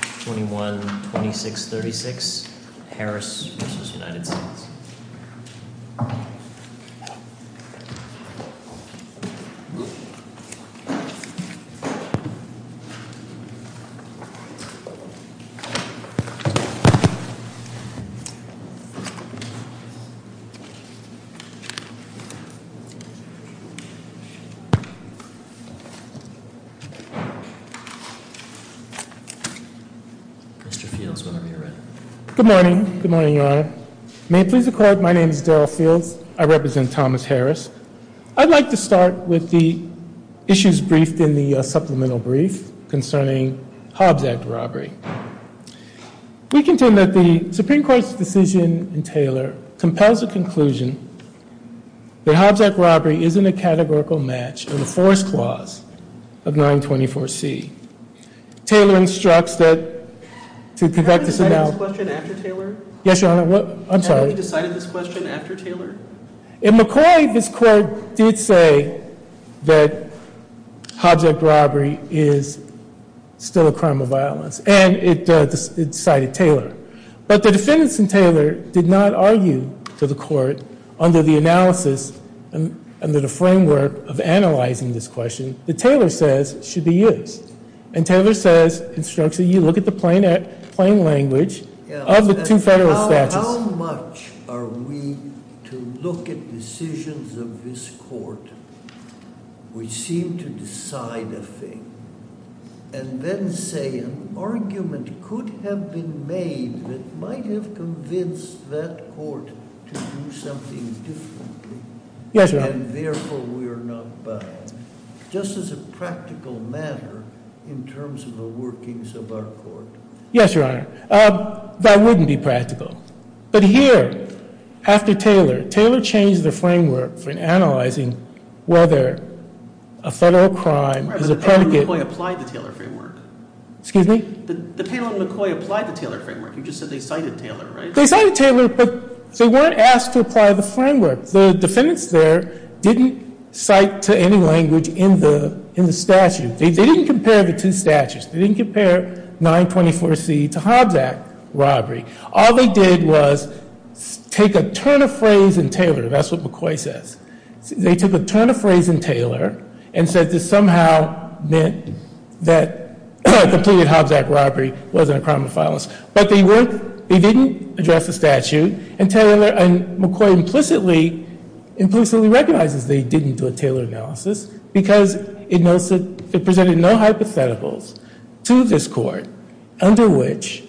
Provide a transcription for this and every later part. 21-2636 Harris v. United States Good morning. Good morning, Your Honor. May it please the Court, my name is Daryl Fields. I represent Thomas Harris. I'd like to start with the issues briefed in the supplemental brief concerning Hobbs Act robbery. We contend that the Supreme Court's decision in Taylor compels a conclusion that Hobbs Act robbery isn't a categorical match in the force clause of 924C. Taylor instructs that to conduct this... Have we decided this question after Taylor? Yes, Your Honor. I'm sorry. Have we decided this question after Taylor? In McCoy, this Court did say that Hobbs Act robbery is still a crime of violence, and it cited Taylor. But the defendants in Taylor did not argue to the Court under the analysis, under the framework of analyzing this question that Taylor says should be used. And Taylor says, instructs that you look at the plain language of the two federal statutes... Yes, Your Honor. Yes, Your Honor. That wouldn't be practical. But here, after Taylor, Taylor changed the framework for analyzing whether a federal crime is a predicate... Excuse me? The Taylor and McCoy applied the Taylor framework. You just said they cited Taylor, right? They cited Taylor, but they weren't asked to apply the framework. The defendants there didn't cite to any language in the statute. They didn't compare the two statutes. They didn't compare 924C to Hobbs Act robbery. All they did was take a turn of phrase in Taylor. That's what McCoy says. They took a turn of phrase in Taylor and said this somehow meant that the plea of Hobbs Act robbery wasn't a crime of violence. But they didn't address the statute, and McCoy implicitly recognizes they didn't do a Taylor analysis, because it presented no hypotheticals to this Court under which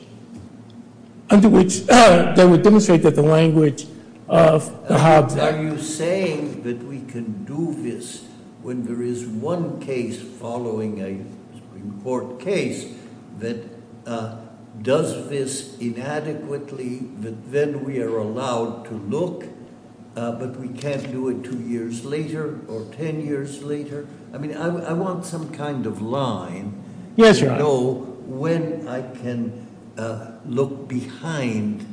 they would demonstrate that the language of the Hobbs Act... Are you saying that we can do this when there is one case following a Supreme Court case that does this inadequately, that then we are allowed to look, but we can't do it two years later or ten years later? I mean, I want some kind of line to know when I can look behind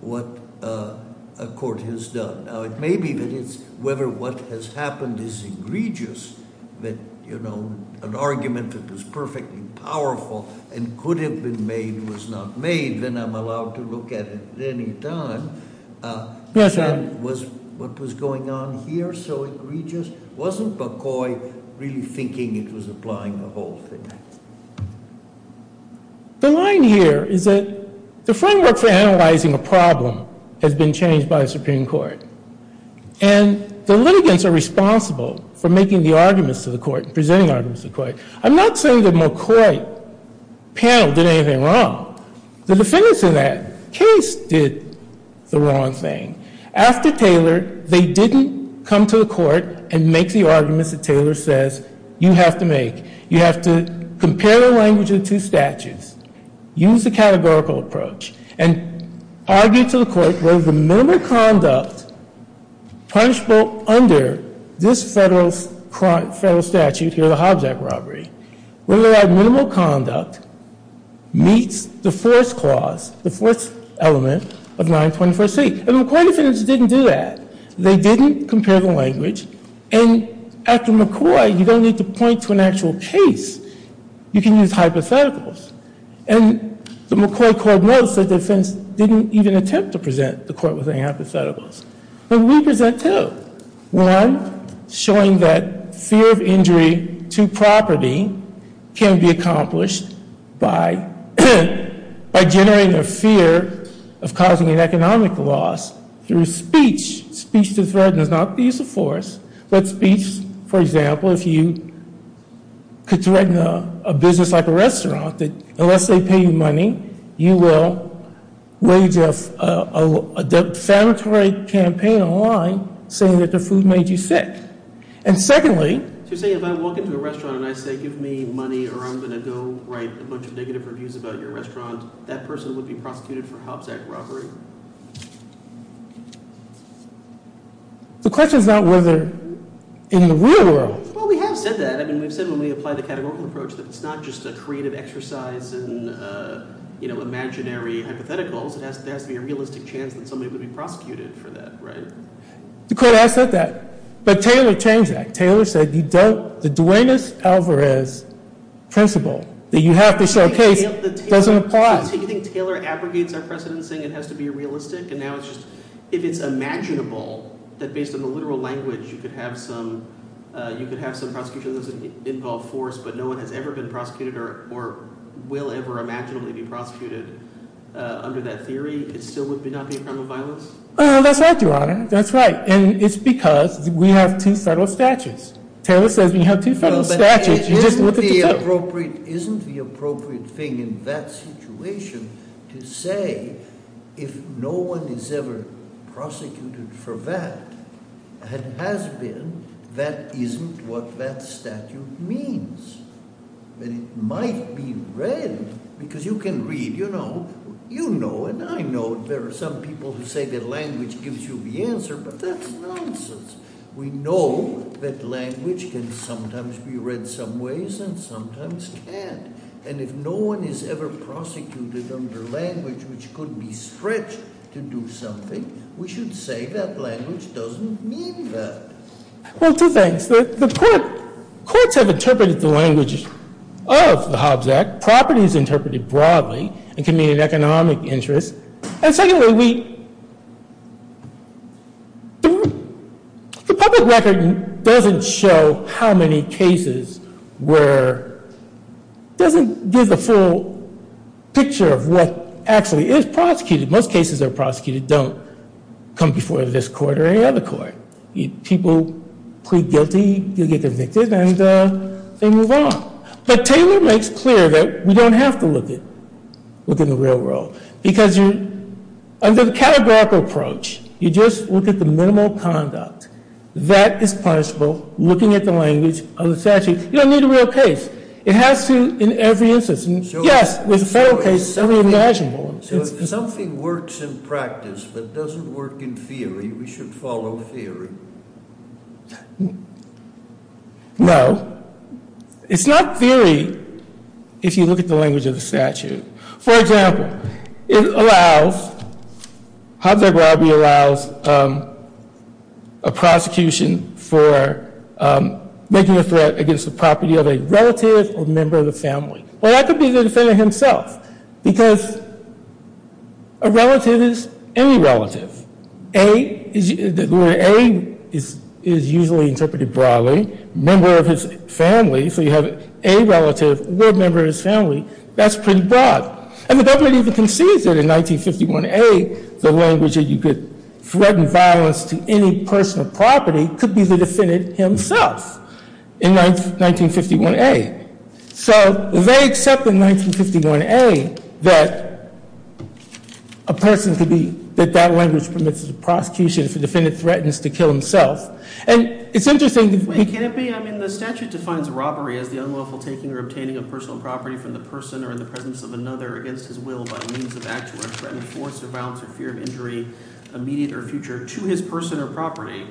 what a court has done. Now, it may be that it's whether what has happened is egregious, that an argument that was perfectly powerful and could have been made was not made, then I'm allowed to look at it at any time. Was what was going on here so egregious? Wasn't McCoy really thinking it was applying the whole thing? The line here is that the framework for analyzing a problem has been changed by the Supreme Court, and the litigants are responsible for making the arguments to the Court, presenting arguments to the Court. I'm not saying that McCoy panel did anything wrong. The defendants in that case did the wrong thing. After Taylor, they didn't come to the Court and make the arguments that Taylor says you have to make. You have to compare the language of the two statutes, use the categorical approach, and argue to the Court whether the minimal conduct punishable under this federal statute here, the Hobjack robbery, whether that minimal conduct meets the fourth clause, the fourth element of 924C. And the McCoy defendants didn't do that. They didn't compare the language. And after McCoy, you don't need to point to an actual case. You can use hypotheticals. And the McCoy court notes the defense didn't even attempt to present the Court with any hypotheticals. But we present two. One, showing that fear of injury to property can be accomplished by generating a fear of causing an economic loss through speech. Speech to threaten is not the use of force, but speech, for example, if you could threaten a business like a restaurant that unless they pay you money, you will wage a defamatory campaign online saying that the food made you sick. And secondly— negative reviews about your restaurant, that person would be prosecuted for Hobjack robbery. The question is not whether in the real world. Well, we have said that. I mean, we've said when we apply the categorical approach that it's not just a creative exercise and imaginary hypotheticals. There has to be a realistic chance that somebody would be prosecuted for that, right? The Court has said that. But Taylor changed that. Taylor said you don't—the Duenas-Alvarez principle that you have to showcase doesn't apply. So you think Taylor abrogates our precedence saying it has to be realistic? And now it's just—if it's imaginable that based on the literal language you could have some prosecution that doesn't involve force, but no one has ever been prosecuted or will ever imaginably be prosecuted under that theory, it still would not be a crime of violence? That's right, Your Honor. That's right. And it's because we have two federal statutes. Taylor says we have two federal statutes. You just look at the two. Isn't the appropriate thing in that situation to say if no one is ever prosecuted for that, it has been that isn't what that statute means? That it might be read because you can read, you know, you know, and I know there are some people who say that language gives you the answer, but that's nonsense. We know that language can sometimes be read some ways and sometimes can't. And if no one is ever prosecuted under language which could be stretched to do something, we should say that language doesn't mean that. Well, two things. The courts have interpreted the language of the Hobbs Act. Properties interpreted broadly and can mean an economic interest. And secondly, the public record doesn't show how many cases were, doesn't give a full picture of what actually is prosecuted. Most cases that are prosecuted don't come before this court or any other court. People plead guilty, you get convicted, and they move on. But Taylor makes clear that we don't have to look in the real world because under the categorical approach, you just look at the minimal conduct. That is punishable, looking at the language of the statute. You don't need a real case. It has to in every instance. Yes, there's a federal case, so it's imaginable. So if something works in practice but doesn't work in theory, we should follow theory. No. It's not theory if you look at the language of the statute. For example, Hobbs Act robbery allows a prosecution for making a threat against the property of a relative or member of the family. Well, that could be the defender himself because a relative is any relative. The word a is usually interpreted broadly, member of his family, so you have a relative or member of his family. That's pretty broad. And the government even concedes that in 1951a the language that you could threaten violence to any personal property could be the defendant himself in 1951a. So they accept in 1951a that a person could be, that that language permits a prosecution if a defendant threatens to kill himself. And it's interesting. Wait, can it be? I mean the statute defines a robbery as the unlawful taking or obtaining of personal property from the person or in the presence of another against his will by means of act to threaten force or violence or fear of injury, immediate or future, to his person or property.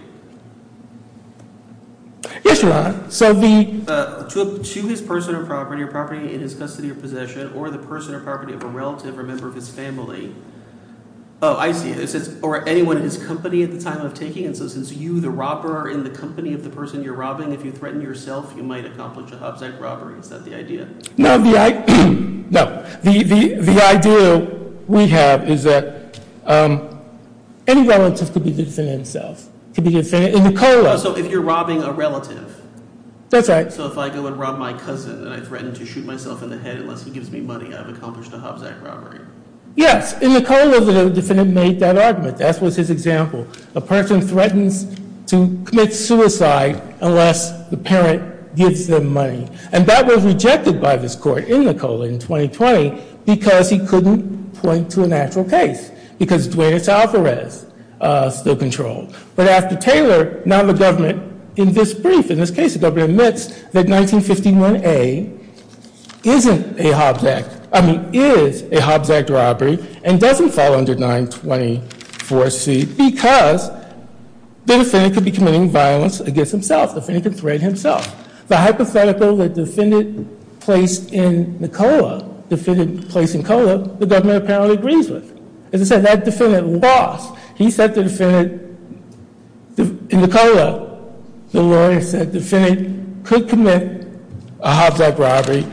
Yes, Your Honor. To his person or property or property in his custody or possession or the person or property of a relative or member of his family. Oh, I see. Or anyone in his company at the time of taking. And so since you, the robber, are in the company of the person you're robbing, if you threaten yourself, you might accomplish a Hobbs Act robbery. Is that the idea? No, the idea we have is that any relative could be the defendant himself. Oh, so if you're robbing a relative. That's right. So if I go and rob my cousin and I threaten to shoot myself in the head unless he gives me money, I've accomplished a Hobbs Act robbery. Yes, and Nicola, the defendant, made that argument. That was his example. A person threatens to commit suicide unless the parent gives them money. And that was rejected by this court in Nicola in 2020 because he couldn't point to a natural case, because Dwayne Alvarez still controlled. But after Taylor, now the government, in this brief, in this case, the government admits that 1951A isn't a Hobbs Act, I mean is a Hobbs Act robbery and doesn't fall under 924C because the defendant could be committing violence against himself. The defendant could threaten himself. The hypothetical that the defendant placed in Nicola, the defendant placed in Nicola, the government apparently agrees with. As I said, that defendant lost. He said the defendant, in Nicola, the lawyer said the defendant could commit a Hobbs Act robbery,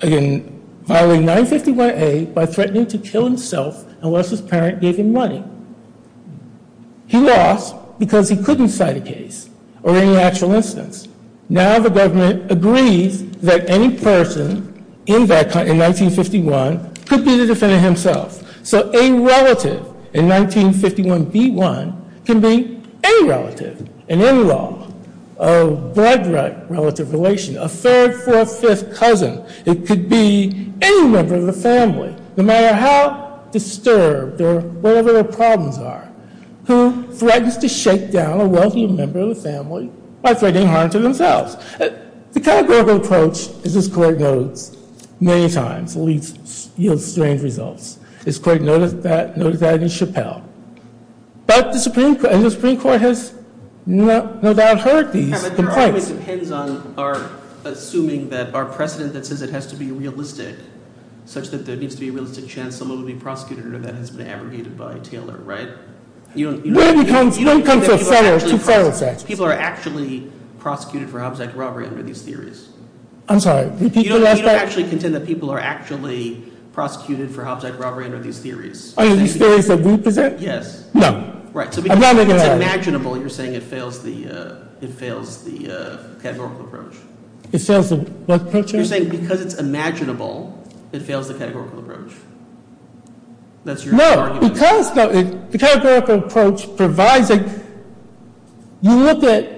again, violating 951A by threatening to kill himself unless his parent gave him money. He lost because he couldn't cite a case or any actual instance. Now the government agrees that any person in that, in 1951, could be the defendant himself. So a relative in 1951B1 can be any relative, an in-law, a blood relative relation, a third, fourth, fifth cousin. It could be any member of the family, no matter how disturbed or whatever their problems are, who threatens to shake down a wealthy member of the family by threatening harm to themselves. The categorical approach, as this court notes, many times leads to strange results. This court noted that in Chappelle. But the Supreme Court has no doubt heard these complaints. It always depends on our assuming that our precedent that says it has to be realistic, such that there needs to be a realistic chance someone will be prosecuted, or that has been abrogated by Taylor, right? You don't- You don't come from federal to federal sex. People are actually prosecuted for Hobbs Act robbery under these theories. I'm sorry, repeat the last part? You don't actually contend that people are actually prosecuted for Hobbs Act robbery under these theories. Are these theories that we present? Yes. No. Right. So because it's imaginable, you're saying it fails the categorical approach. It fails the what approach? So you're saying because it's imaginable, it fails the categorical approach. That's your argument. No, because the categorical approach provides a- You look at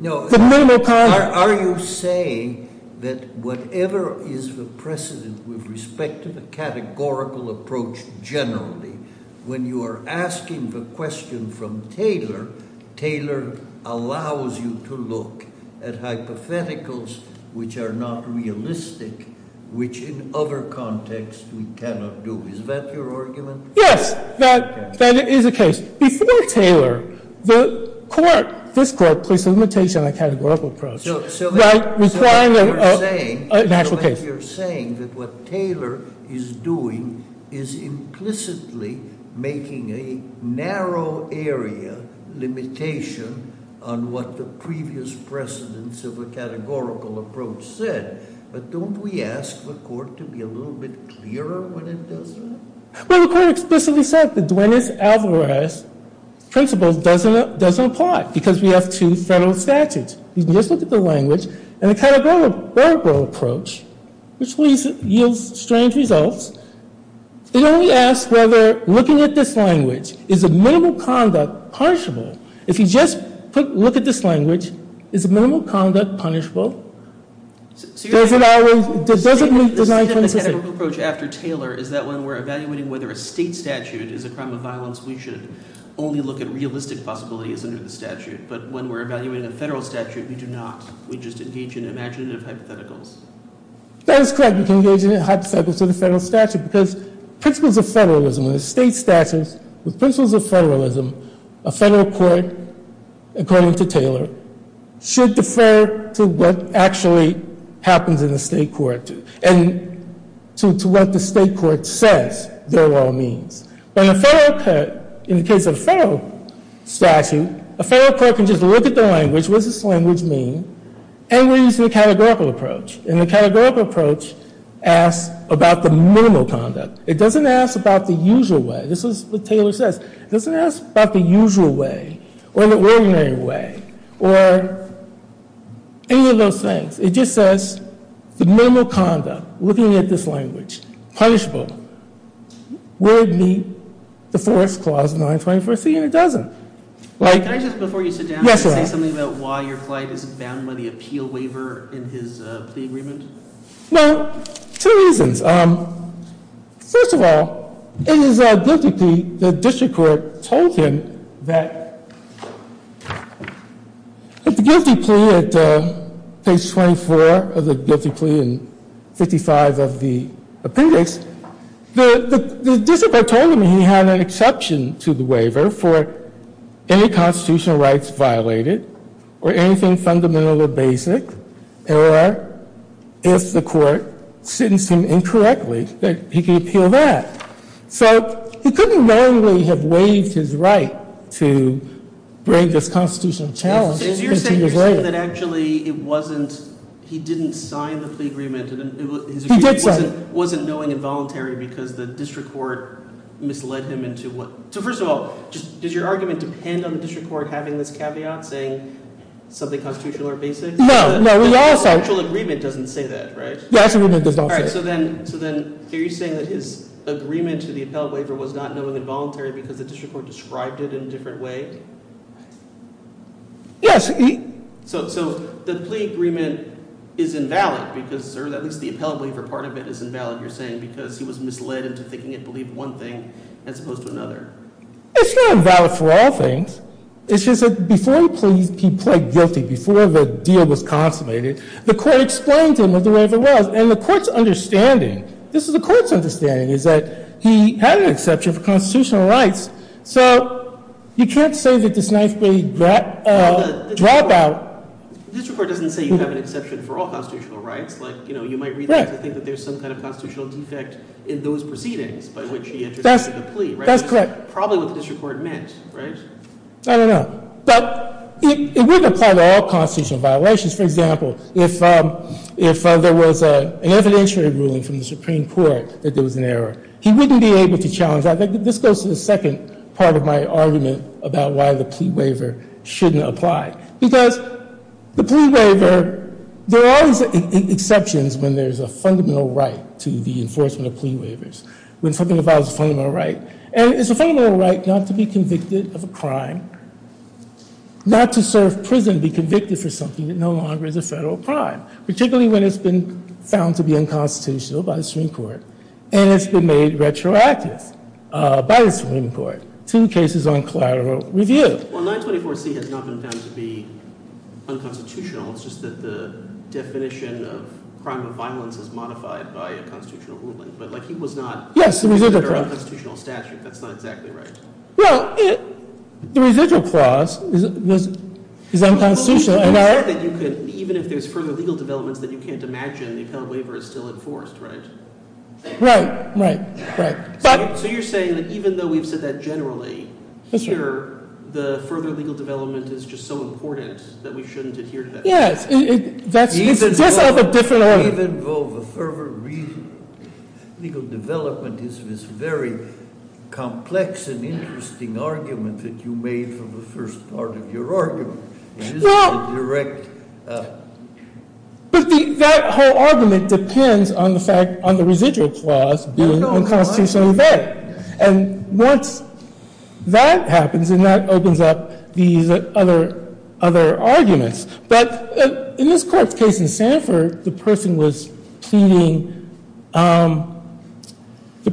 the minimal- Are you saying that whatever is the precedent with respect to the categorical approach generally, when you are asking the question from Taylor, Taylor allows you to look at hypotheticals which are not realistic, which in other contexts we cannot do. Is that your argument? Yes. That is the case. Before Taylor, the court, this court, placed a limitation on the categorical approach. Right? Requiring a natural case. Because you're saying that what Taylor is doing is implicitly making a narrow area limitation on what the previous precedents of a categorical approach said. But don't we ask the court to be a little bit clearer when it does that? Well, the court explicitly said that Duenas-Alvarez principle doesn't apply because we have two federal statutes. You can just look at the language. And the categorical approach, which yields strange results, it only asks whether looking at this language, is a minimal conduct punishable? If you just look at this language, is a minimal conduct punishable? Does it always- The standard approach after Taylor is that when we're evaluating whether a state statute is a crime of violence, we should only look at realistic possibilities under the statute. But when we're evaluating a federal statute, we do not. We just engage in imaginative hypotheticals. That is correct. We can engage in hypotheticals under the federal statute. Because principles of federalism, when a state statute, with principles of federalism, a federal court, according to Taylor, should defer to what actually happens in the state court and to what the state court says they're all means. But in the case of a federal statute, a federal court can just look at the language. What does this language mean? And we're using a categorical approach. And the categorical approach asks about the minimal conduct. It doesn't ask about the usual way. This is what Taylor says. It doesn't ask about the usual way or the ordinary way or any of those things. It just says the minimal conduct, looking at this language, punishable, would meet the fourth clause of 924C. And it doesn't. Can I just, before you sit down, say something about why your flight is banned by the appeal waiver in his plea agreement? Well, two reasons. First of all, it is a guilty plea. The district court told him that the guilty plea at page 24 of the guilty plea and 55 of the appendix, the district court told him he had an exception to the waiver for any constitutional rights violated or anything fundamental or basic, or if the court sentenced him incorrectly, that he could appeal that. So he couldn't wrongly have waived his right to break this constitutional challenge. So you're saying that actually it wasn't, he didn't sign the plea agreement. He did sign it. It wasn't knowing involuntary because the district court misled him into what, So first of all, does your argument depend on the district court having this caveat, saying something constitutional or basic? No, no. The actual agreement doesn't say that, right? The actual agreement does not say that. All right. So then are you saying that his agreement to the appellate waiver was not knowing involuntary because the district court described it in a different way? Yes. So the plea agreement is invalid because, or at least the appellate waiver part of it is invalid, you're saying, because he was misled into thinking it believed one thing as opposed to another. It's not invalid for all things. It's just that before he pled guilty, before the deal was consummated, the court explained to him what the waiver was. And the court's understanding, this is the court's understanding, is that he had an exception for constitutional rights. So you can't say that this ninth grade dropout, The district court doesn't say you have an exception for all constitutional rights. You know, you might read that to think that there's some kind of constitutional defect in those proceedings by which he entered into the plea. That's correct. Probably what the district court meant, right? I don't know. But it wouldn't apply to all constitutional violations. For example, if there was an evidentiary ruling from the Supreme Court that there was an error, he wouldn't be able to challenge that. This goes to the second part of my argument about why the plea waiver shouldn't apply. Because the plea waiver, there are always exceptions when there's a fundamental right to the enforcement of plea waivers. When something involves a fundamental right. And it's a fundamental right not to be convicted of a crime, not to serve prison, be convicted for something that no longer is a federal crime. Particularly when it's been found to be unconstitutional by the Supreme Court. And it's been made retroactive by the Supreme Court. Two cases on collateral review. Well, 924C has not been found to be unconstitutional. It's just that the definition of crime of violence is modified by a constitutional ruling. But he was not considered an unconstitutional statute. That's not exactly right. Well, the residual clause is unconstitutional. Even if there's further legal developments that you can't imagine, the appellate waiver is still enforced, right? Right, right, right. So you're saying that even though we've said that generally, here the further legal development is just so important that we shouldn't adhere to that? Yes. It's just of a different order. Even though the further legal development is this very complex and interesting argument that you made for the first part of your argument. It isn't a direct. But that whole argument depends on the fact, on the residual clause being unconstitutional. And once that happens, then that opens up these other arguments. But in this court's case in Sanford, the person was pleading, the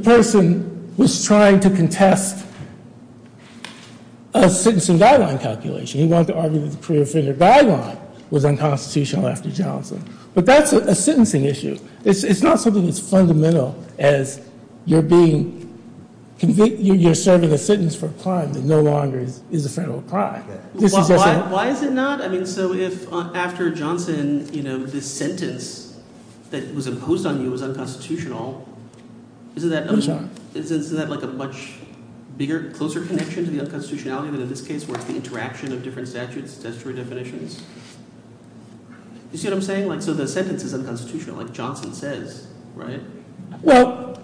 person was trying to contest a citizen guideline calculation. He wanted to argue that the career figure guideline was unconstitutional after Johnson. But that's a sentencing issue. It's not something that's fundamental as you're being, you're serving a sentence for a crime that no longer is a federal crime. Why is it not? I mean, so if after Johnson, you know, this sentence that was imposed on you was unconstitutional, isn't that like a much bigger, closer connection to the unconstitutionality? In this case, where it's the interaction of different statutes, statutory definitions? You see what I'm saying? So the sentence is unconstitutional, like Johnson says, right? Well,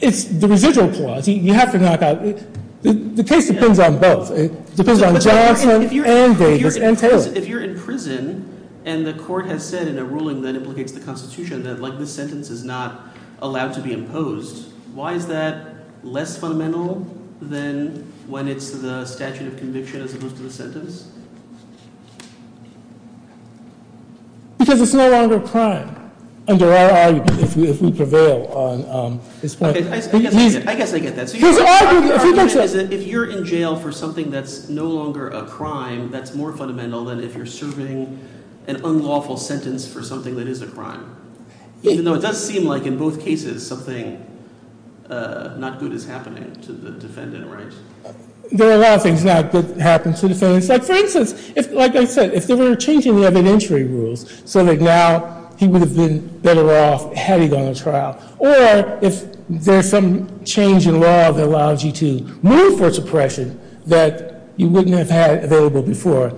it's the residual clause. You have to knock out – the case depends on both. It depends on Johnson and Davis and Taylor. If you're in prison and the court has said in a ruling that implicates the Constitution that this sentence is not allowed to be imposed, why is that less fundamental than when it's the statute of conviction as opposed to the sentence? Because it's no longer a crime under our argument if we prevail on this point. I guess I get that. If you're in jail for something that's no longer a crime, that's more fundamental than if you're serving an unlawful sentence for something that is a crime. Even though it does seem like in both cases something not good is happening to the defendant, right? There are a lot of things not good that happen to defendants. Like, for instance, like I said, if they were changing the evidentiary rules so that now he would have been better off had he gone to trial, or if there's some change in law that allows you to move for suppression that you wouldn't have had available before,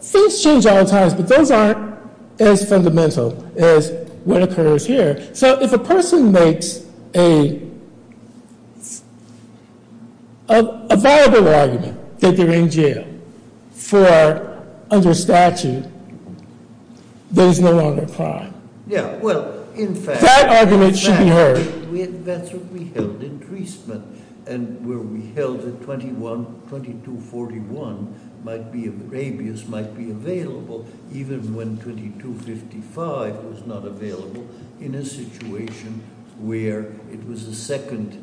things change all the time, but those aren't as fundamental as what occurs here. So if a person makes a viable argument that they're in jail for under statute, that is no longer a crime. Yeah, well, in fact— That argument should be heard. That's what we held in Treasement, and where we held that 2241 might be available, even when 2255 was not available, in a situation where it was a second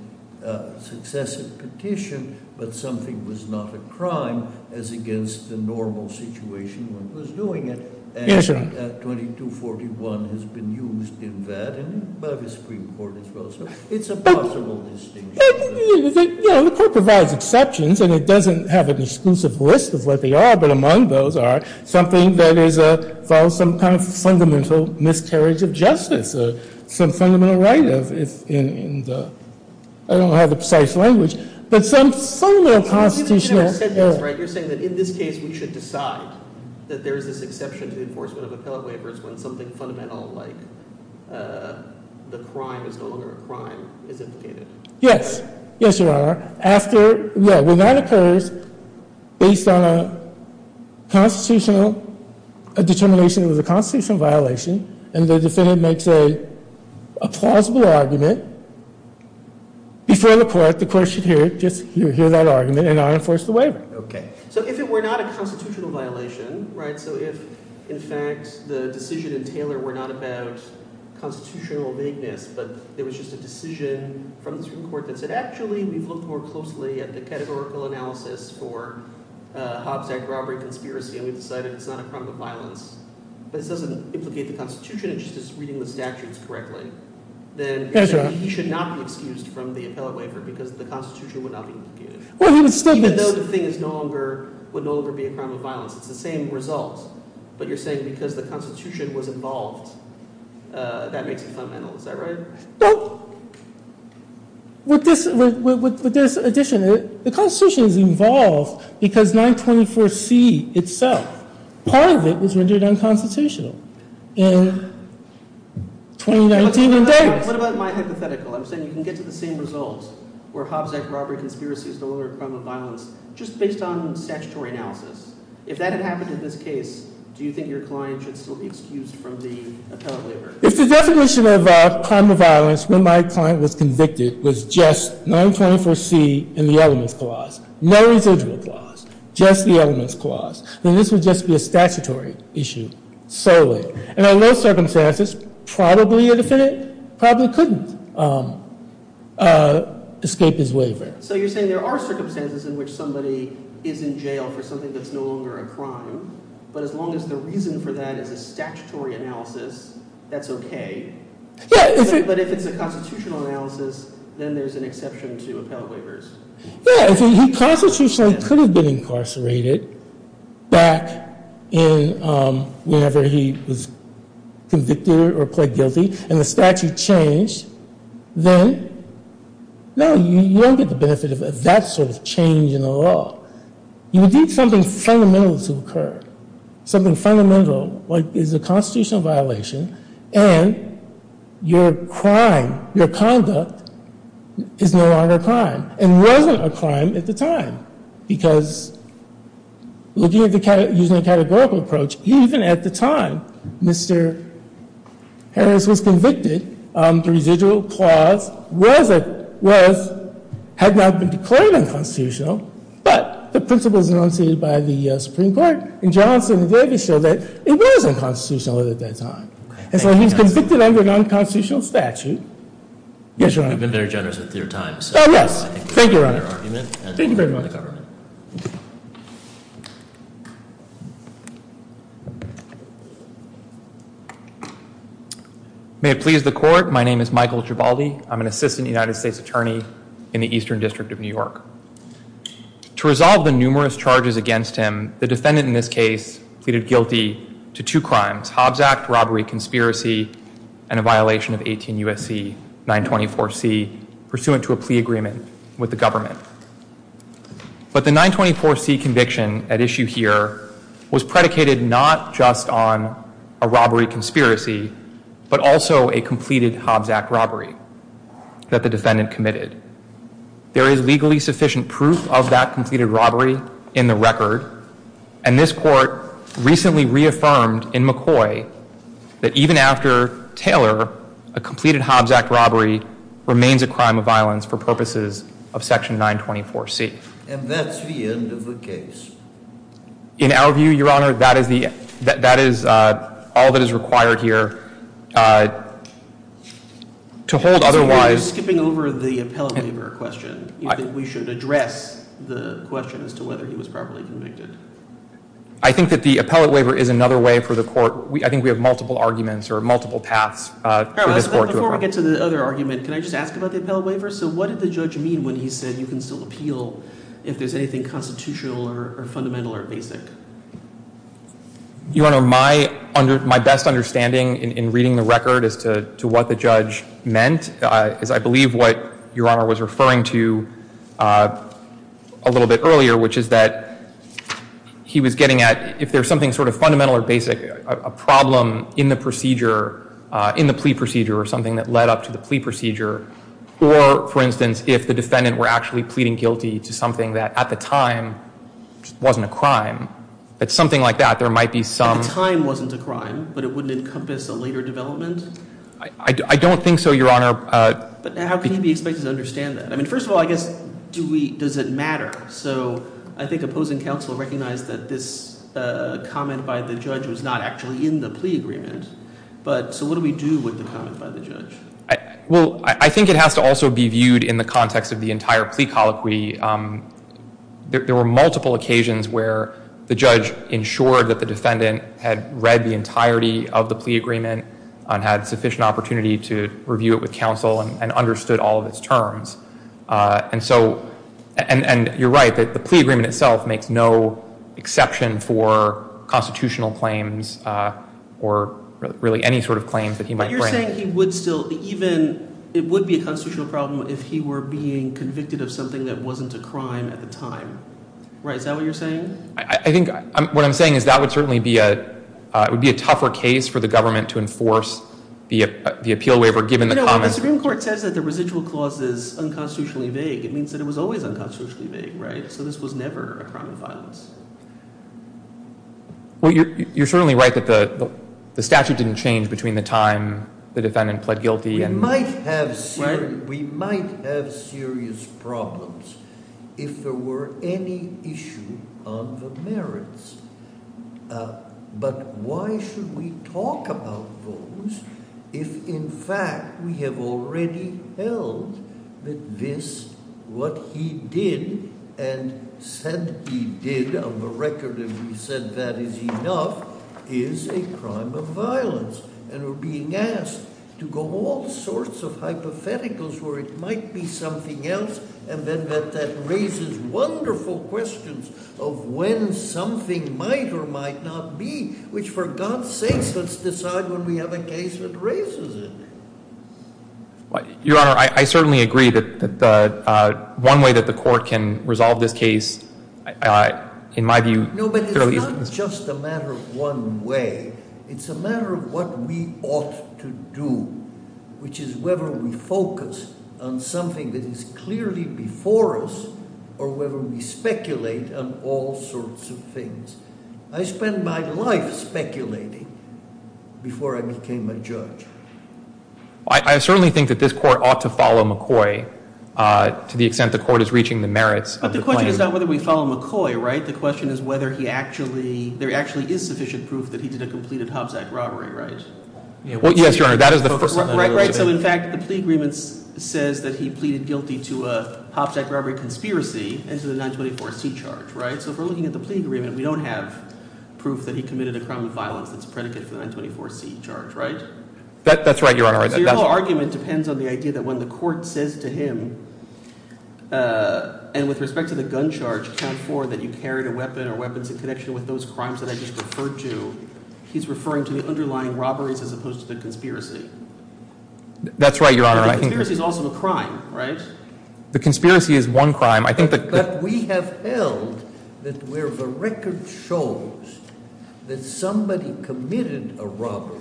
successive petition, but something was not a crime as against the normal situation when it was doing it. Yes, sir. But 2241 has been used in that, and by the Supreme Court as well, so it's a possible distinction. Yeah, the court provides exceptions, and it doesn't have an exclusive list of what they are, but among those are something that involves some kind of fundamental miscarriage of justice, some fundamental right in the—I don't have the precise language, but some fundamental constitutional— when something fundamental like the crime is no longer a crime is implicated. Yes, yes, Your Honor. After—yeah, when that occurs, based on a constitutional—a determination that it was a constitutional violation, and the defendant makes a plausible argument, before the court, the court should hear it, just hear that argument, and not enforce the waiver. Okay. So if it were not a constitutional violation, right, so if, in fact, the decision in Taylor were not about constitutional vagueness, but there was just a decision from the Supreme Court that said, actually, we've looked more closely at the categorical analysis for Hobbs Act robbery conspiracy, and we've decided it's not a crime of violence, but it doesn't implicate the Constitution, it's just reading the statutes correctly, then he should not be excused from the appellate waiver because the Constitution would not be implicated. Well, he would still be— Even though the thing is no longer—would no longer be a crime of violence. It's the same result, but you're saying because the Constitution was involved, that makes it fundamental. Is that right? Well, with this addition, the Constitution is involved because 924C itself, part of it was rendered unconstitutional in 2019. What about my hypothetical? I'm saying you can get to the same result where Hobbs Act robbery conspiracy is no longer a crime of violence just based on statutory analysis. If that had happened in this case, do you think your client should still be excused from the appellate waiver? If the definition of crime of violence when my client was convicted was just 924C in the elements clause, no residual clause, just the elements clause, then this would just be a statutory issue solely. And in those circumstances, probably a defendant probably couldn't escape his waiver. So you're saying there are circumstances in which somebody is in jail for something that's no longer a crime, but as long as the reason for that is a statutory analysis, that's okay. But if it's a constitutional analysis, then there's an exception to appellate waivers. Yeah, if he constitutionally could have been incarcerated back in whenever he was convicted or pled guilty and the statute changed, then no, you don't get the benefit of that sort of change in the law. You would need something fundamental to occur. Something fundamental is a constitutional violation and your crime, your conduct is no longer a crime and wasn't a crime at the time. Because looking at it using a categorical approach, even at the time Mr. Harris was convicted, the residual clause was, had not been declared unconstitutional, but the principles enunciated by the Supreme Court in Johnson and Davis show that it was unconstitutional at that time. And so he's convicted under non-constitutional statute. Yes, Your Honor. We've been very generous with your time. Oh, yes. Thank you, Your Honor. Thank you very much. Thank you, Your Honor. May it please the court. My name is Michael Gibaldi. I'm an assistant United States attorney in the Eastern District of New York. To resolve the numerous charges against him, the defendant in this case pleaded guilty to two crimes, Hobbs Act robbery conspiracy and a violation of 18 U.S.C. 924C, pursuant to a plea agreement with the government. But the 924C conviction at issue here was predicated not just on a robbery conspiracy, but also a completed Hobbs Act robbery that the defendant committed. There is legally sufficient proof of that completed robbery in the record, and this court recently reaffirmed in McCoy that even after Taylor, a completed Hobbs Act robbery remains a crime of violence for purposes of Section 924C. And that's the end of the case. In our view, Your Honor, that is all that is required here to hold otherwise. You're skipping over the appellate waiver question. We should address the question as to whether he was properly convicted. I think that the appellate waiver is another way for the court. I think we have multiple arguments or multiple paths. Before we get to the other argument, can I just ask about the appellate waiver? So what did the judge mean when he said you can still appeal if there's anything constitutional or fundamental or basic? Your Honor, my best understanding in reading the record as to what the judge meant is I believe what Your Honor was referring to a little bit earlier, which is that he was getting at if there's something sort of fundamental or basic, a problem in the procedure, in the plea procedure, or something that led up to the plea procedure, or, for instance, if the defendant were actually pleading guilty to something that at the time wasn't a crime, that something like that, there might be some... If the time wasn't a crime, but it wouldn't encompass a later development? I don't think so, Your Honor. But how can you be expected to understand that? I mean, first of all, I guess, does it matter? So I think opposing counsel recognized that this comment by the judge was not actually in the plea agreement. So what do we do with the comment by the judge? Well, I think it has to also be viewed in the context of the entire plea colloquy. There were multiple occasions where the judge ensured that the defendant had read the entirety of the plea agreement and had sufficient opportunity to review it with counsel and understood all of its terms. And so, and you're right, that the plea agreement itself makes no exception for constitutional claims or really any sort of claims that he might bring. But you're saying he would still, even, it would be a constitutional problem if he were being convicted of something that wasn't a crime at the time, right? Is that what you're saying? I think what I'm saying is that would certainly be a, it would be a tougher case for the government to enforce the appeal waiver given the common... No, the Supreme Court says that the residual clause is unconstitutionally vague. It means that it was always unconstitutionally vague, right? So this was never a crime of violence. Well, you're certainly right that the statute didn't change between the time the defendant pled guilty and... We might have serious problems if there were any issue on the merits. But why should we talk about those if in fact we have already held that this, what he did and said he did on the record that he said that is enough is a crime of violence and we're being asked to go all sorts of hypotheticals where it might be something else and then that raises wonderful questions of when something might or might not be, which for God's sakes, let's decide when we have a case that raises it. Your Honor, I certainly agree that one way that the court can resolve this case, in my view... No, but it's not just a matter of one way. It's a matter of what we ought to do, which is whether we focus on something that is clearly before us I spent my life speculating before I became a judge. I certainly think that this court ought to follow McCoy to the extent the court is reaching the merits of the claim. But the question is not whether we follow McCoy, right? The question is whether there actually is sufficient proof that he did a completed Hobbs Act robbery, right? Yes, Your Honor, that is the focus of the negotiation. Right, so in fact the plea agreement says that he pleaded guilty to a Hobbs Act robbery conspiracy and to the 924C charge, right? So if we're looking at the plea agreement, we don't have proof that he committed a crime of violence that's predicate for the 924C charge, right? That's right, Your Honor. So your whole argument depends on the idea that when the court says to him, and with respect to the gun charge, count for that you carried a weapon or weapons in connection with those crimes that I just referred to, he's referring to the underlying robberies as opposed to the conspiracy. That's right, Your Honor. The conspiracy is also a crime, right? The conspiracy is one crime. I think that... But we have held that where the record shows that somebody committed a robbery,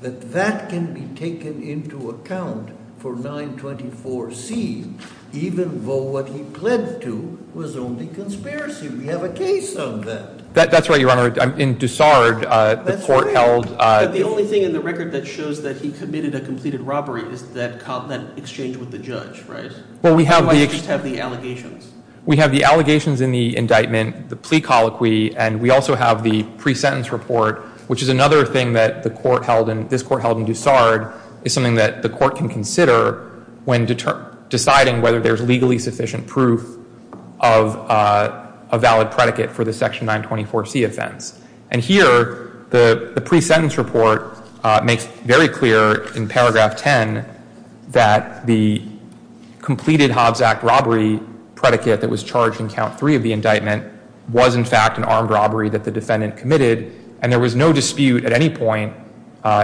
that that can be taken into account for 924C, even though what he pled to was only conspiracy. We have a case on that. That's right, Your Honor. In Dusard, the court held... But the only thing in the record that shows that he committed a completed robbery is that exchange with the judge, right? Well, we have the... Why did you have the allegations? We have the allegations in the indictment, the plea colloquy, and we also have the pre-sentence report, which is another thing that the court held, and this court held in Dusard, is something that the court can consider when deciding whether there's legally sufficient proof of a valid predicate for the Section 924C offense. And here, the pre-sentence report makes very clear in paragraph 10 that the completed Hobbs Act robbery predicate that was charged in count three of the indictment was, in fact, an armed robbery that the defendant committed, and there was no dispute at any point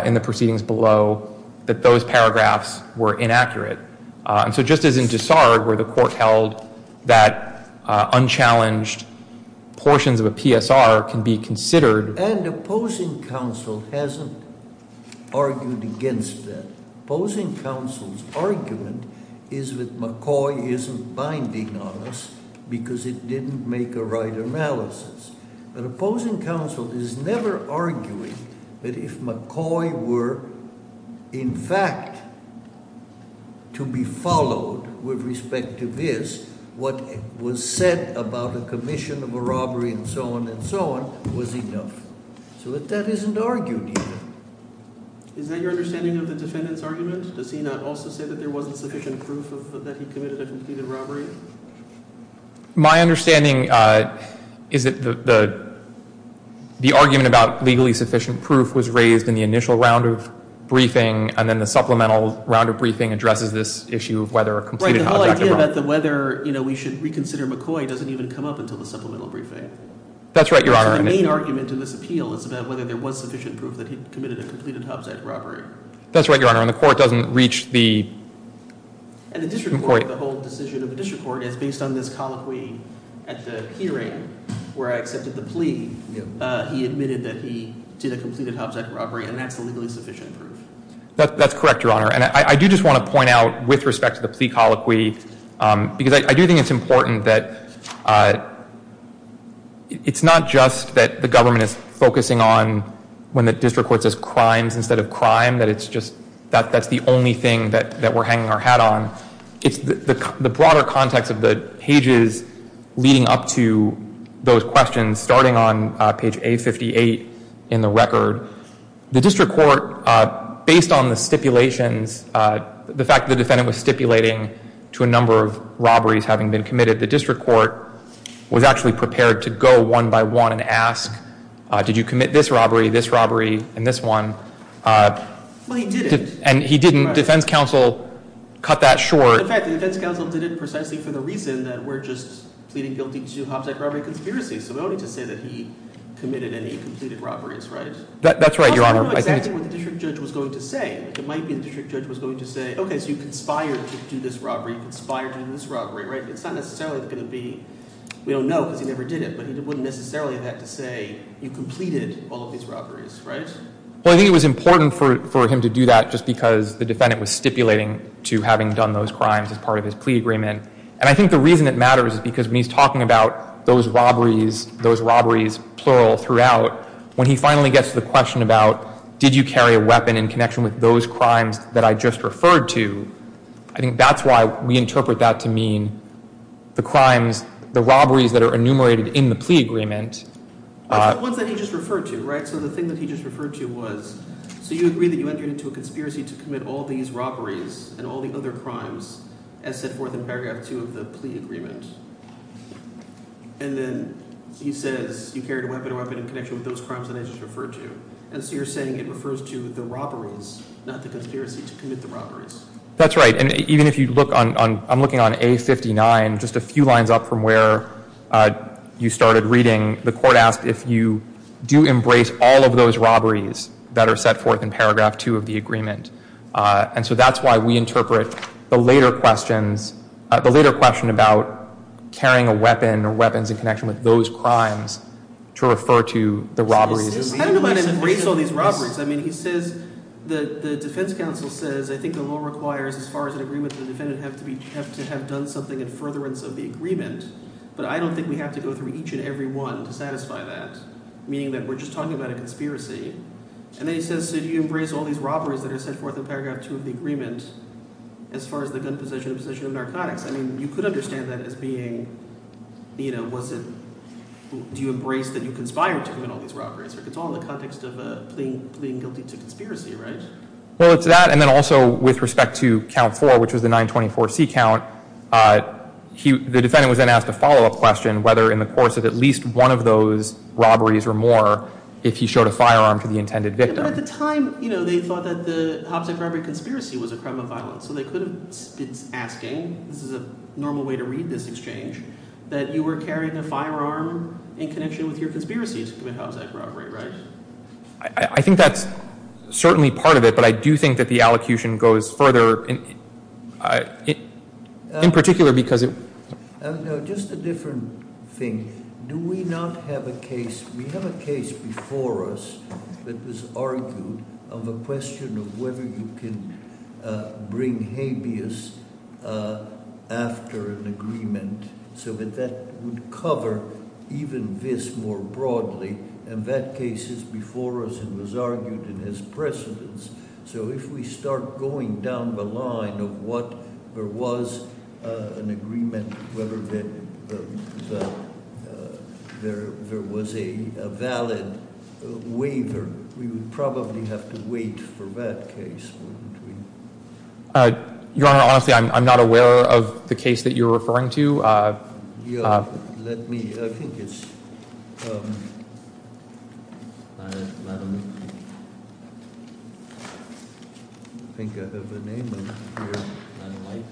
in the proceedings below that those paragraphs were inaccurate. And so just as in Dusard, where the court held that unchallenged portions of a PSR can be considered... And opposing counsel hasn't argued against that. Opposing counsel's argument is that McCoy isn't binding on us because it didn't make a right analysis. But opposing counsel is never arguing that if McCoy were, in fact, to be followed with respect to this, what was said about a commission of a robbery and so on and so on was enough. So that that isn't argued either. Is that your understanding of the defendant's argument? Does he not also say that there wasn't sufficient proof that he committed a completed robbery? My understanding is that the argument about legally sufficient proof was raised in the initial round of briefing and then the supplemental round of briefing addresses this issue of whether a completed Hobbs Act robbery... Right, the whole idea about whether we should reconsider McCoy doesn't even come up until the supplemental briefing. That's right, Your Honor. So the main argument in this appeal is about whether there was sufficient proof that he committed a completed Hobbs Act robbery. That's right, Your Honor. And the court doesn't reach the... And the district court, the whole decision of the district court is based on this colloquy at the hearing where I accepted the plea. He admitted that he did a completed Hobbs Act robbery and that's the legally sufficient proof. That's correct, Your Honor. And I do just want to point out with respect to the plea colloquy because I do think it's important that it's not just that the government is focusing on when the district court says crimes instead of crime, that it's just, that's the only thing that we're hanging our hat on. It's the broader context of the pages leading up to those questions starting on page A58 in the record. The district court, based on the stipulations, the fact that the defendant was stipulating to a number of robberies having been committed, the district court was actually prepared to go one by one and ask, did you commit this robbery, this robbery, and this one? Well, he didn't. And he didn't. Defense counsel cut that short. In fact, the defense counsel did it precisely for the reason that we're just pleading guilty to Hobbs Act robbery conspiracy. So we don't need to say that he committed any completed robberies, right? That's right, Your Honor. I don't know exactly what the district judge was going to say. It might be the district judge was going to say, okay, so you conspired to do this robbery, conspired to do this robbery, right? It's not necessarily going to be, we don't know because he never did it, but he wouldn't necessarily have had to say you completed all of these robberies, right? Well, I think it was important for him to do that just because the defendant was stipulating to having done those crimes as part of his plea agreement. And I think the reason it matters is because when he's talking about those robberies, those robberies, plural, throughout, when he finally gets to the question about did you carry a weapon in connection with those crimes that I just referred to, I think that's why we interpret that to mean the crimes, the robberies that are enumerated in the plea agreement. The ones that he just referred to, right? So the thing that he just referred to was, so you agree that you entered into a conspiracy to commit all these robberies and all the other crimes as set forth in paragraph two of the plea agreement. And then he says you carried a weapon in connection with those crimes that I just referred to. And so you're saying it refers to the robberies, not the conspiracy to commit the robberies. That's right. And even if you look on, I'm looking on A59, just a few lines up from where you started reading, the court asked if you do embrace all of those robberies that are set forth in paragraph two of the agreement. And so that's why we interpret the later questions, the later question about carrying a weapon or weapons in connection with those crimes to refer to the robberies. I don't know about embrace all these robberies. I mean he says – the defense counsel says I think the law requires as far as an agreement to the defendant have to have done something in furtherance of the agreement, but I don't think we have to go through each and every one to satisfy that, meaning that we're just talking about a conspiracy. And then he says so do you embrace all these robberies that are set forth in paragraph two of the agreement as far as the gun possession and possession of narcotics? I mean you could understand that as being was it – do you embrace that you conspired to commit all these robberies? It's all in the context of pleading guilty to conspiracy, right? Well, it's that and then also with respect to count four, which was the 924C count, the defendant was then asked a follow-up question whether in the course of at least one of those robberies or more if he showed a firearm to the intended victim. But at the time they thought that the Hobbs Act robbery conspiracy was a crime of violence, so they could have been asking – this is a normal way to read this exchange – that you were carrying a firearm in connection with your conspiracy to commit Hobbs Act robbery, right? I think that's certainly part of it, but I do think that the allocution goes further in particular because it – No, just a different thing. Do we not have a case – we have a case before us that was argued of a question of whether you can bring habeas after an agreement so that that would cover even this more broadly, and that case is before us and was argued in its precedence. So if we start going down the line of what there was an agreement, whether there was a valid waiver, we would probably have to wait for that case, wouldn't we? Your Honor, honestly, I'm not aware of the case that you're referring to. Let me – I think it's – I don't think I have the name on here.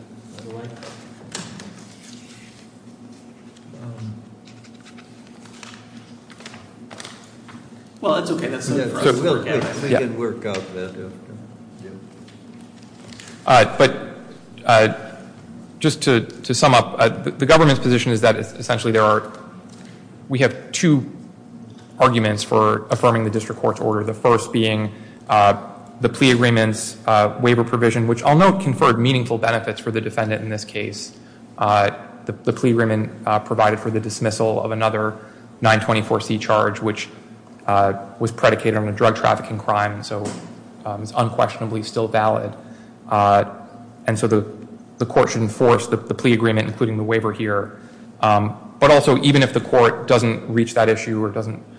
Well, that's okay. That's not a problem. We can work out that. But just to sum up, the government's position is that essentially there are – we have two arguments for affirming the district court's order, the first being the plea agreement's waiver provision, which I'll note conferred meaningful benefits for the defendant in this case. The plea agreement provided for the dismissal of another 924C charge, which was predicated on a drug trafficking crime, so it's unquestionably still valid. And so the court should enforce the plea agreement, including the waiver here. But also, even if the court doesn't reach that issue or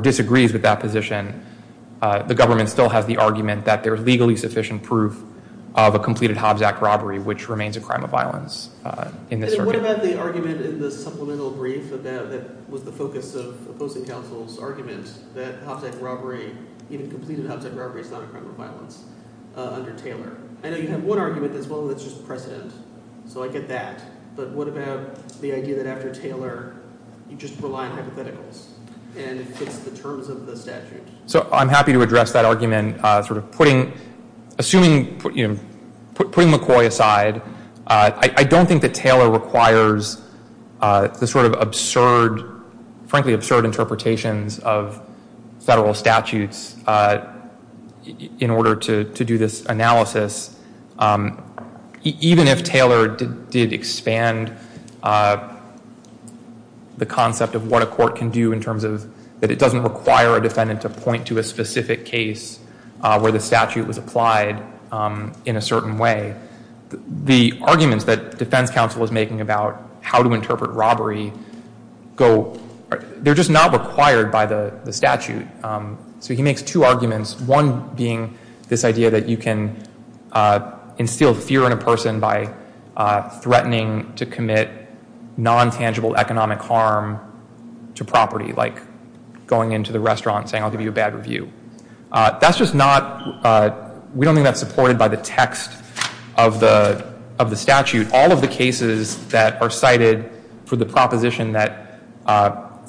disagrees with that position, the government still has the argument that there is legally sufficient proof of a completed Hobbs Act robbery, which remains a crime of violence in this circuit. What about the argument in the supplemental brief that was the focus of opposing counsel's argument that Hobbs Act robbery, even completed Hobbs Act robbery, is not a crime of violence under Taylor? I know you have one argument as well that's just precedent, so I get that. But what about the idea that after Taylor, you just rely on hypotheticals and it fits the terms of the statute? So I'm happy to address that argument. Sort of putting – assuming – putting McCoy aside, I don't think that Taylor requires the sort of absurd – frankly, absurd interpretations of federal statutes in order to do this analysis. Even if Taylor did expand the concept of what a court can do in terms of – that it doesn't require a defendant to point to a specific case where the statute was applied in a certain way, the arguments that defense counsel is making about how to interpret robbery go – they're just not required by the statute. So he makes two arguments, one being this idea that you can instill fear in a person by threatening to commit non-tangible economic harm to property, like going into the restaurant and saying, I'll give you a bad review. That's just not – we don't think that's supported by the text of the statute. All of the cases that are cited for the proposition that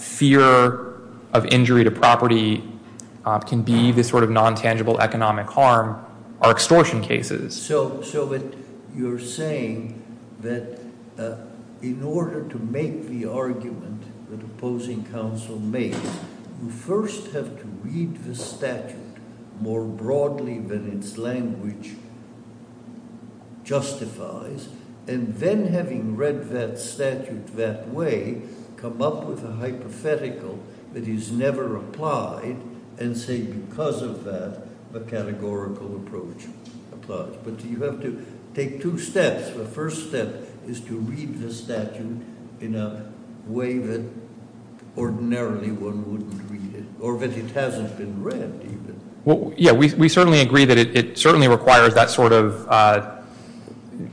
fear of injury to property can be the sort of non-tangible economic harm are extortion cases. So you're saying that in order to make the argument that opposing counsel makes, you first have to read the statute more broadly than its language justifies, and then having read that statute that way, come up with a hypothetical that is never applied and say because of that, a categorical approach applies. But you have to take two steps. The first step is to read the statute in a way that ordinarily one wouldn't read it, or that it hasn't been read even. Yeah, we certainly agree that it certainly requires that sort of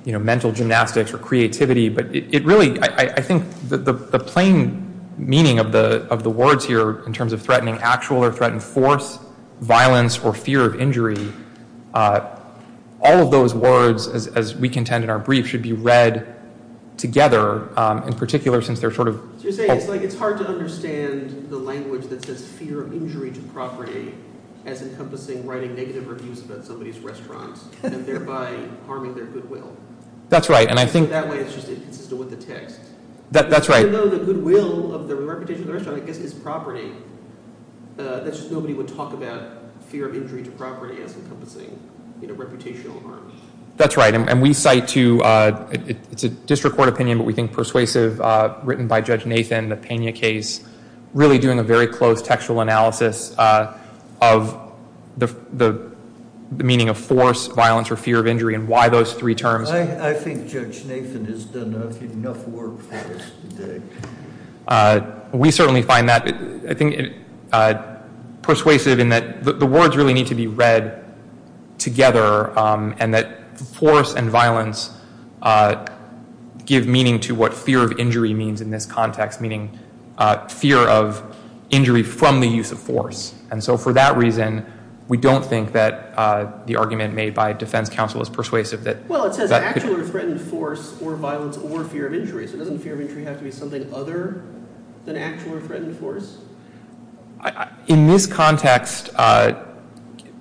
mental gymnastics or creativity, but I think the plain meaning of the words here in terms of threatening actual or threatened force, violence, or fear of injury, all of those words, as we contend in our brief, should be read together, in particular since they're sort of – So you're saying it's hard to understand the language that says fear of injury to property as encompassing writing negative reviews about somebody's restaurant and thereby harming their goodwill. That's right, and I think – That way it's just inconsistent with the text. That's right. Even though the goodwill of the reputation of the restaurant, I guess, is property, that's just nobody would talk about fear of injury to property as encompassing reputational harm. That's right, and we cite to – it's a district court opinion, but we think persuasive written by Judge Nathan, the Pena case, really doing a very close textual analysis of the meaning of force, violence, or fear of injury and why those three terms – I think Judge Nathan has done enough work for us today. We certainly find that persuasive in that the words really need to be read together and that force and violence give meaning to what fear of injury means in this context, and so for that reason, we don't think that the argument made by defense counsel is persuasive. Well, it says actual or threatened force or violence or fear of injury, so doesn't fear of injury have to be something other than actual or threatened force? In this context,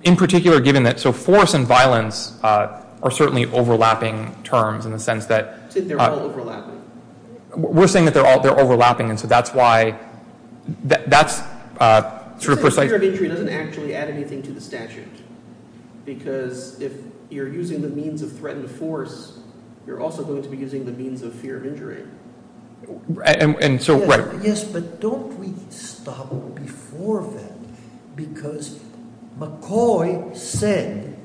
in particular given that – so force and violence are certainly overlapping terms in the sense that – You said they're all overlapping. We're saying that they're overlapping, and so that's why – that's sort of persuasive. You said fear of injury doesn't actually add anything to the statute because if you're using the means of threatened force, you're also going to be using the means of fear of injury. And so – Yes, but don't we stop before that because McCoy said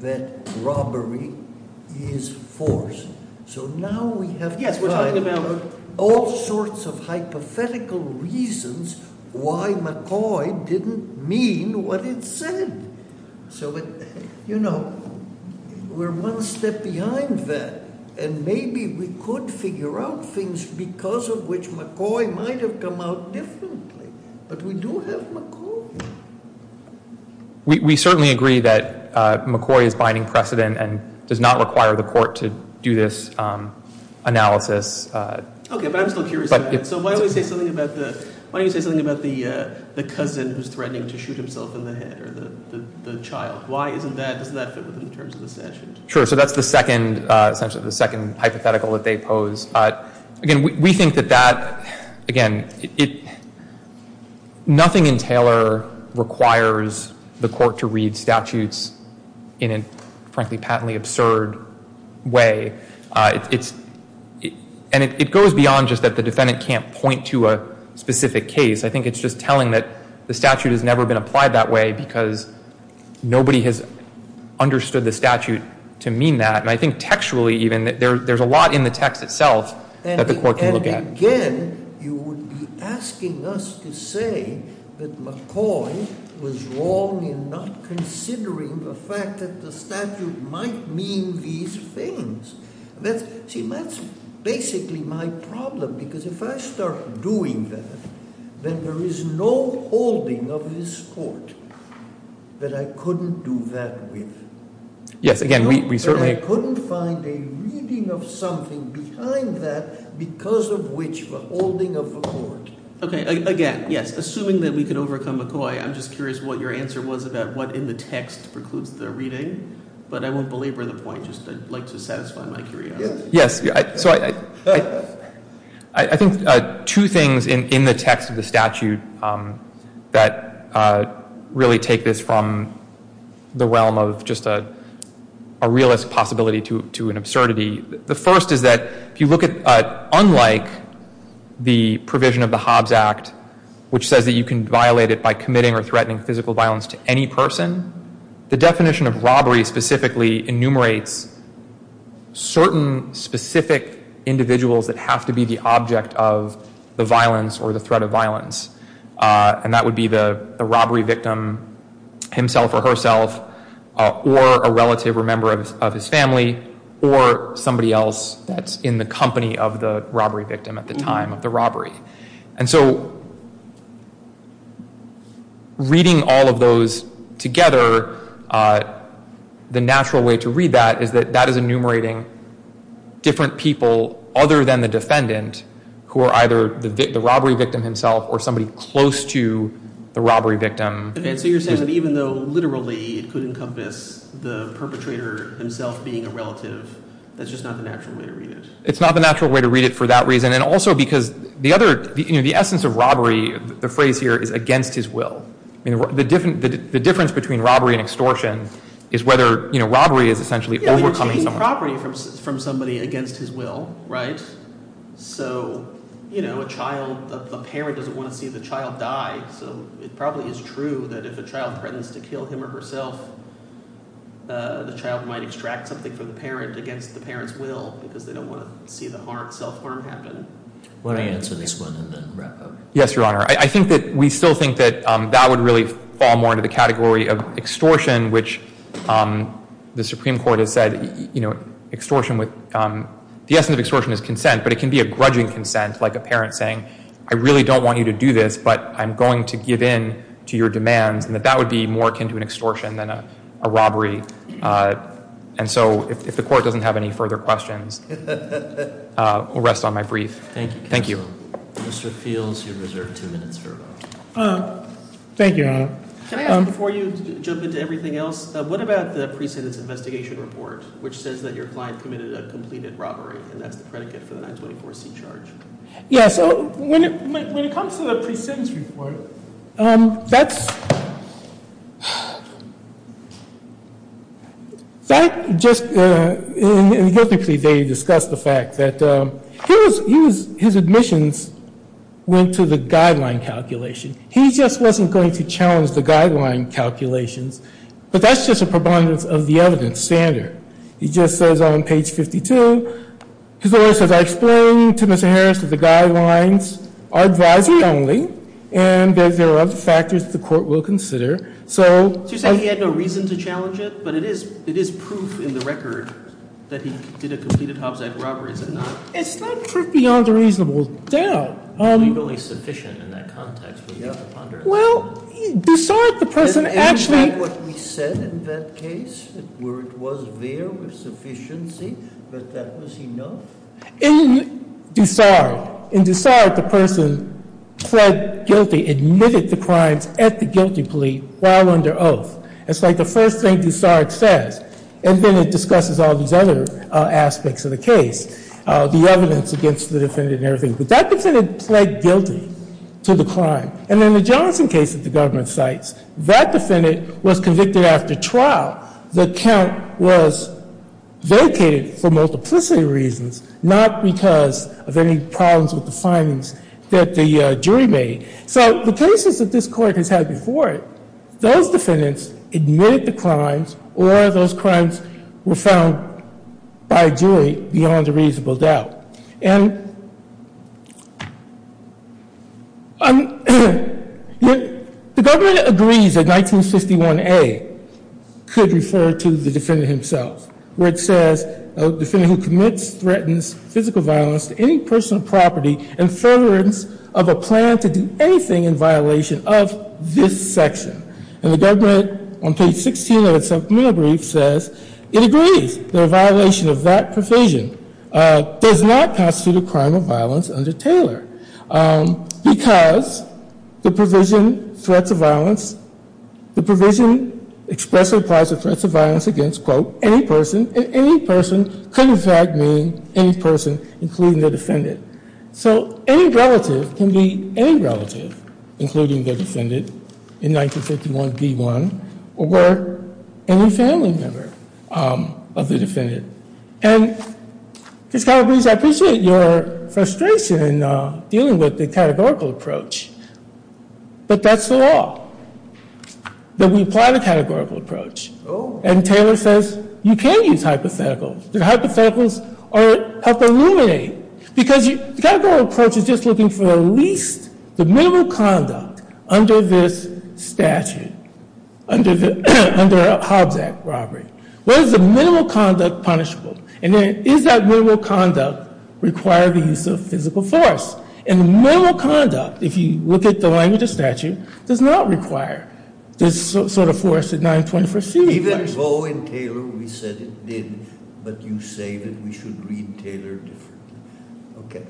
that robbery is force, so now we have all sorts of hypothetical reasons why McCoy didn't mean what it said. So, you know, we're one step behind that, and maybe we could figure out things because of which McCoy might have come out differently, but we do have McCoy. We certainly agree that McCoy is binding precedent and does not require the court to do this analysis. Okay, but I'm still curious about that. So why don't we say something about the cousin who's threatening to shoot himself in the head or the child? Why isn't that – doesn't that fit within the terms of the statute? Sure, so that's the second – essentially the second hypothetical that they pose. Again, we think that that – again, nothing in Taylor requires the court to read statutes in a, frankly, patently absurd way. And it goes beyond just that the defendant can't point to a specific case. I think it's just telling that the statute has never been applied that way because nobody has understood the statute to mean that. And I think textually, even, there's a lot in the text itself that the court can look at. And again, you would be asking us to say that McCoy was wrong in not considering the fact that the statute might mean these things. See, that's basically my problem because if I start doing that, then there is no holding of this court that I couldn't do that with. Yes, again, we certainly – But I couldn't find a reading of something behind that because of which we're holding of the court. Okay, again, yes, assuming that we could overcome McCoy, I'm just curious what your answer was about what in the text precludes the reading. But I won't belabor the point, just I'd like to satisfy my curiosity. Yes, so I think two things in the text of the statute that really take this from the realm of just a realist possibility to an absurdity. The first is that if you look at, unlike the provision of the Hobbes Act, which says that you can violate it by committing or threatening physical violence to any person, the definition of robbery specifically enumerates certain specific individuals that have to be the object of the violence or the threat of violence. And that would be the robbery victim himself or herself or a relative or member of his family or somebody else that's in the company of the robbery victim at the time of the robbery. And so reading all of those together, the natural way to read that is that that is enumerating different people other than the defendant who are either the robbery victim himself or somebody close to the robbery victim. And so you're saying that even though literally it could encompass the perpetrator himself being a relative, that's just not the natural way to read it. It's not the natural way to read it for that reason. And also because the essence of robbery, the phrase here, is against his will. The difference between robbery and extortion is whether robbery is essentially overcoming someone. You're taking property from somebody against his will, right? So a parent doesn't want to see the child die. So it probably is true that if a child threatens to kill him or herself, the child might extract something from the parent against the parent's will because they don't want to see the self-harm happen. Why don't I answer this one and then wrap up? Yes, Your Honor. I think that we still think that that would really fall more into the category of extortion, which the Supreme Court has said the essence of extortion is consent, but it can be a grudging consent like a parent saying, I really don't want you to do this, but I'm going to give in to your demands, and that that would be more akin to an extortion than a robbery. And so if the Court doesn't have any further questions, I'll rest on my brief. Thank you. Thank you, Your Honor. Mr. Fields, you're reserved two minutes for a vote. Thank you, Your Honor. Can I ask before you jump into everything else, what about the pre-sentence investigation report, which says that your client committed a completed robbery, and that's the predicate for the 924C charge? Yeah, so when it comes to the pre-sentence report, that's just, they discussed the fact that his admissions went to the guideline calculation. He just wasn't going to challenge the guideline calculations, but that's just a preponderance of the evidence standard. He just says on page 52, his lawyer says, We are explaining to Mr. Harris that the guidelines are advisory only, and that there are other factors that the Court will consider. So you're saying he had no reason to challenge it? But it is proof in the record that he did a completed homicide robbery, is it not? It's not proof beyond a reasonable doubt. Well, he's only sufficient in that context, would you have to ponder that? Well, you saw that the person actually – In Dusard, the person pled guilty, admitted the crimes at the guilty plea while under oath. It's like the first thing Dusard says, and then it discusses all these other aspects of the case, the evidence against the defendant and everything. But that defendant pled guilty to the crime. And in the Johnson case that the government cites, that defendant was convicted after trial. The count was vacated for multiplicity reasons, not because of any problems with the findings that the jury made. So the cases that this Court has had before it, those defendants admitted the crimes or those crimes were found by a jury beyond a reasonable doubt. And the government agrees that 1951A could refer to the defendant himself, where it says a defendant who commits, threatens physical violence to any personal property and furtherance of a plan to do anything in violation of this section. And the government, on page 16 of its supplemental brief, says it agrees that a violation of that provision does not constitute a crime of violence under Taylor. Because the provision threats of violence, the provision expressly applies to threats of violence against, quote, any person, and any person could in fact mean any person, including the defendant. So any relative can be any relative, including the defendant in 1951B1, or any family member of the defendant. And Ms. Calabrese, I appreciate your frustration in dealing with the categorical approach, but that's the law, that we apply the categorical approach. And Taylor says you can use hypotheticals. The hypotheticals help illuminate, because the categorical approach is just looking for the least, the minimal conduct under this statute, under a Hobbs Act robbery. What is the minimal conduct punishable? And is that minimal conduct require the use of physical force? And the minimal conduct, if you look at the language of statute, does not require this sort of force at 921C. Even though in Taylor we said it did, but you say that we should read Taylor differently. Okay.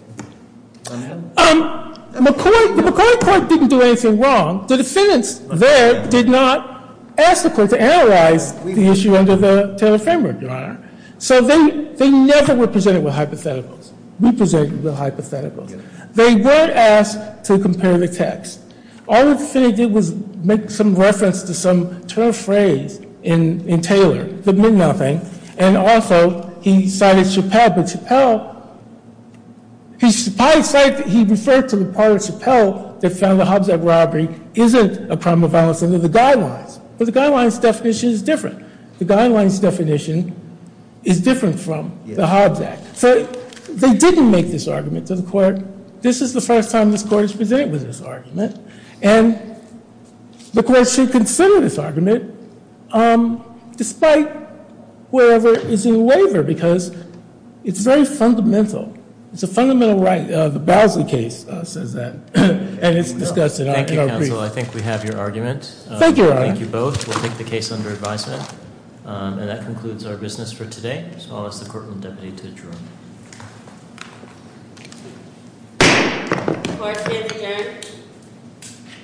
McCoy court didn't do anything wrong. The defendants there did not ask the court to analyze the issue under the Taylor framework, Your Honor. So they never were presented with hypotheticals. We presented them with hypotheticals. They were asked to compare the text. All the defendant did was make some reference to some term phrase in Taylor that meant nothing, and also he cited Chappelle, but Chappelle, he probably cited, he referred to the part of Chappelle that found the Hobbs Act robbery isn't a crime of violence under the guidelines. But the guidelines definition is different. The guidelines definition is different from the Hobbs Act. So they didn't make this argument to the court. This is the first time this court is presented with this argument, and the court should consider this argument despite whatever is in waiver, because it's very fundamental. It's a fundamental right. The Bosley case says that, and it's discussed in our brief. Thank you, counsel. I think we have your argument. Thank you, Your Honor. Thank you both. We'll take the case under advisement, and that concludes our business for today. So I'll ask the courtroom deputy to adjourn. Court is adjourned.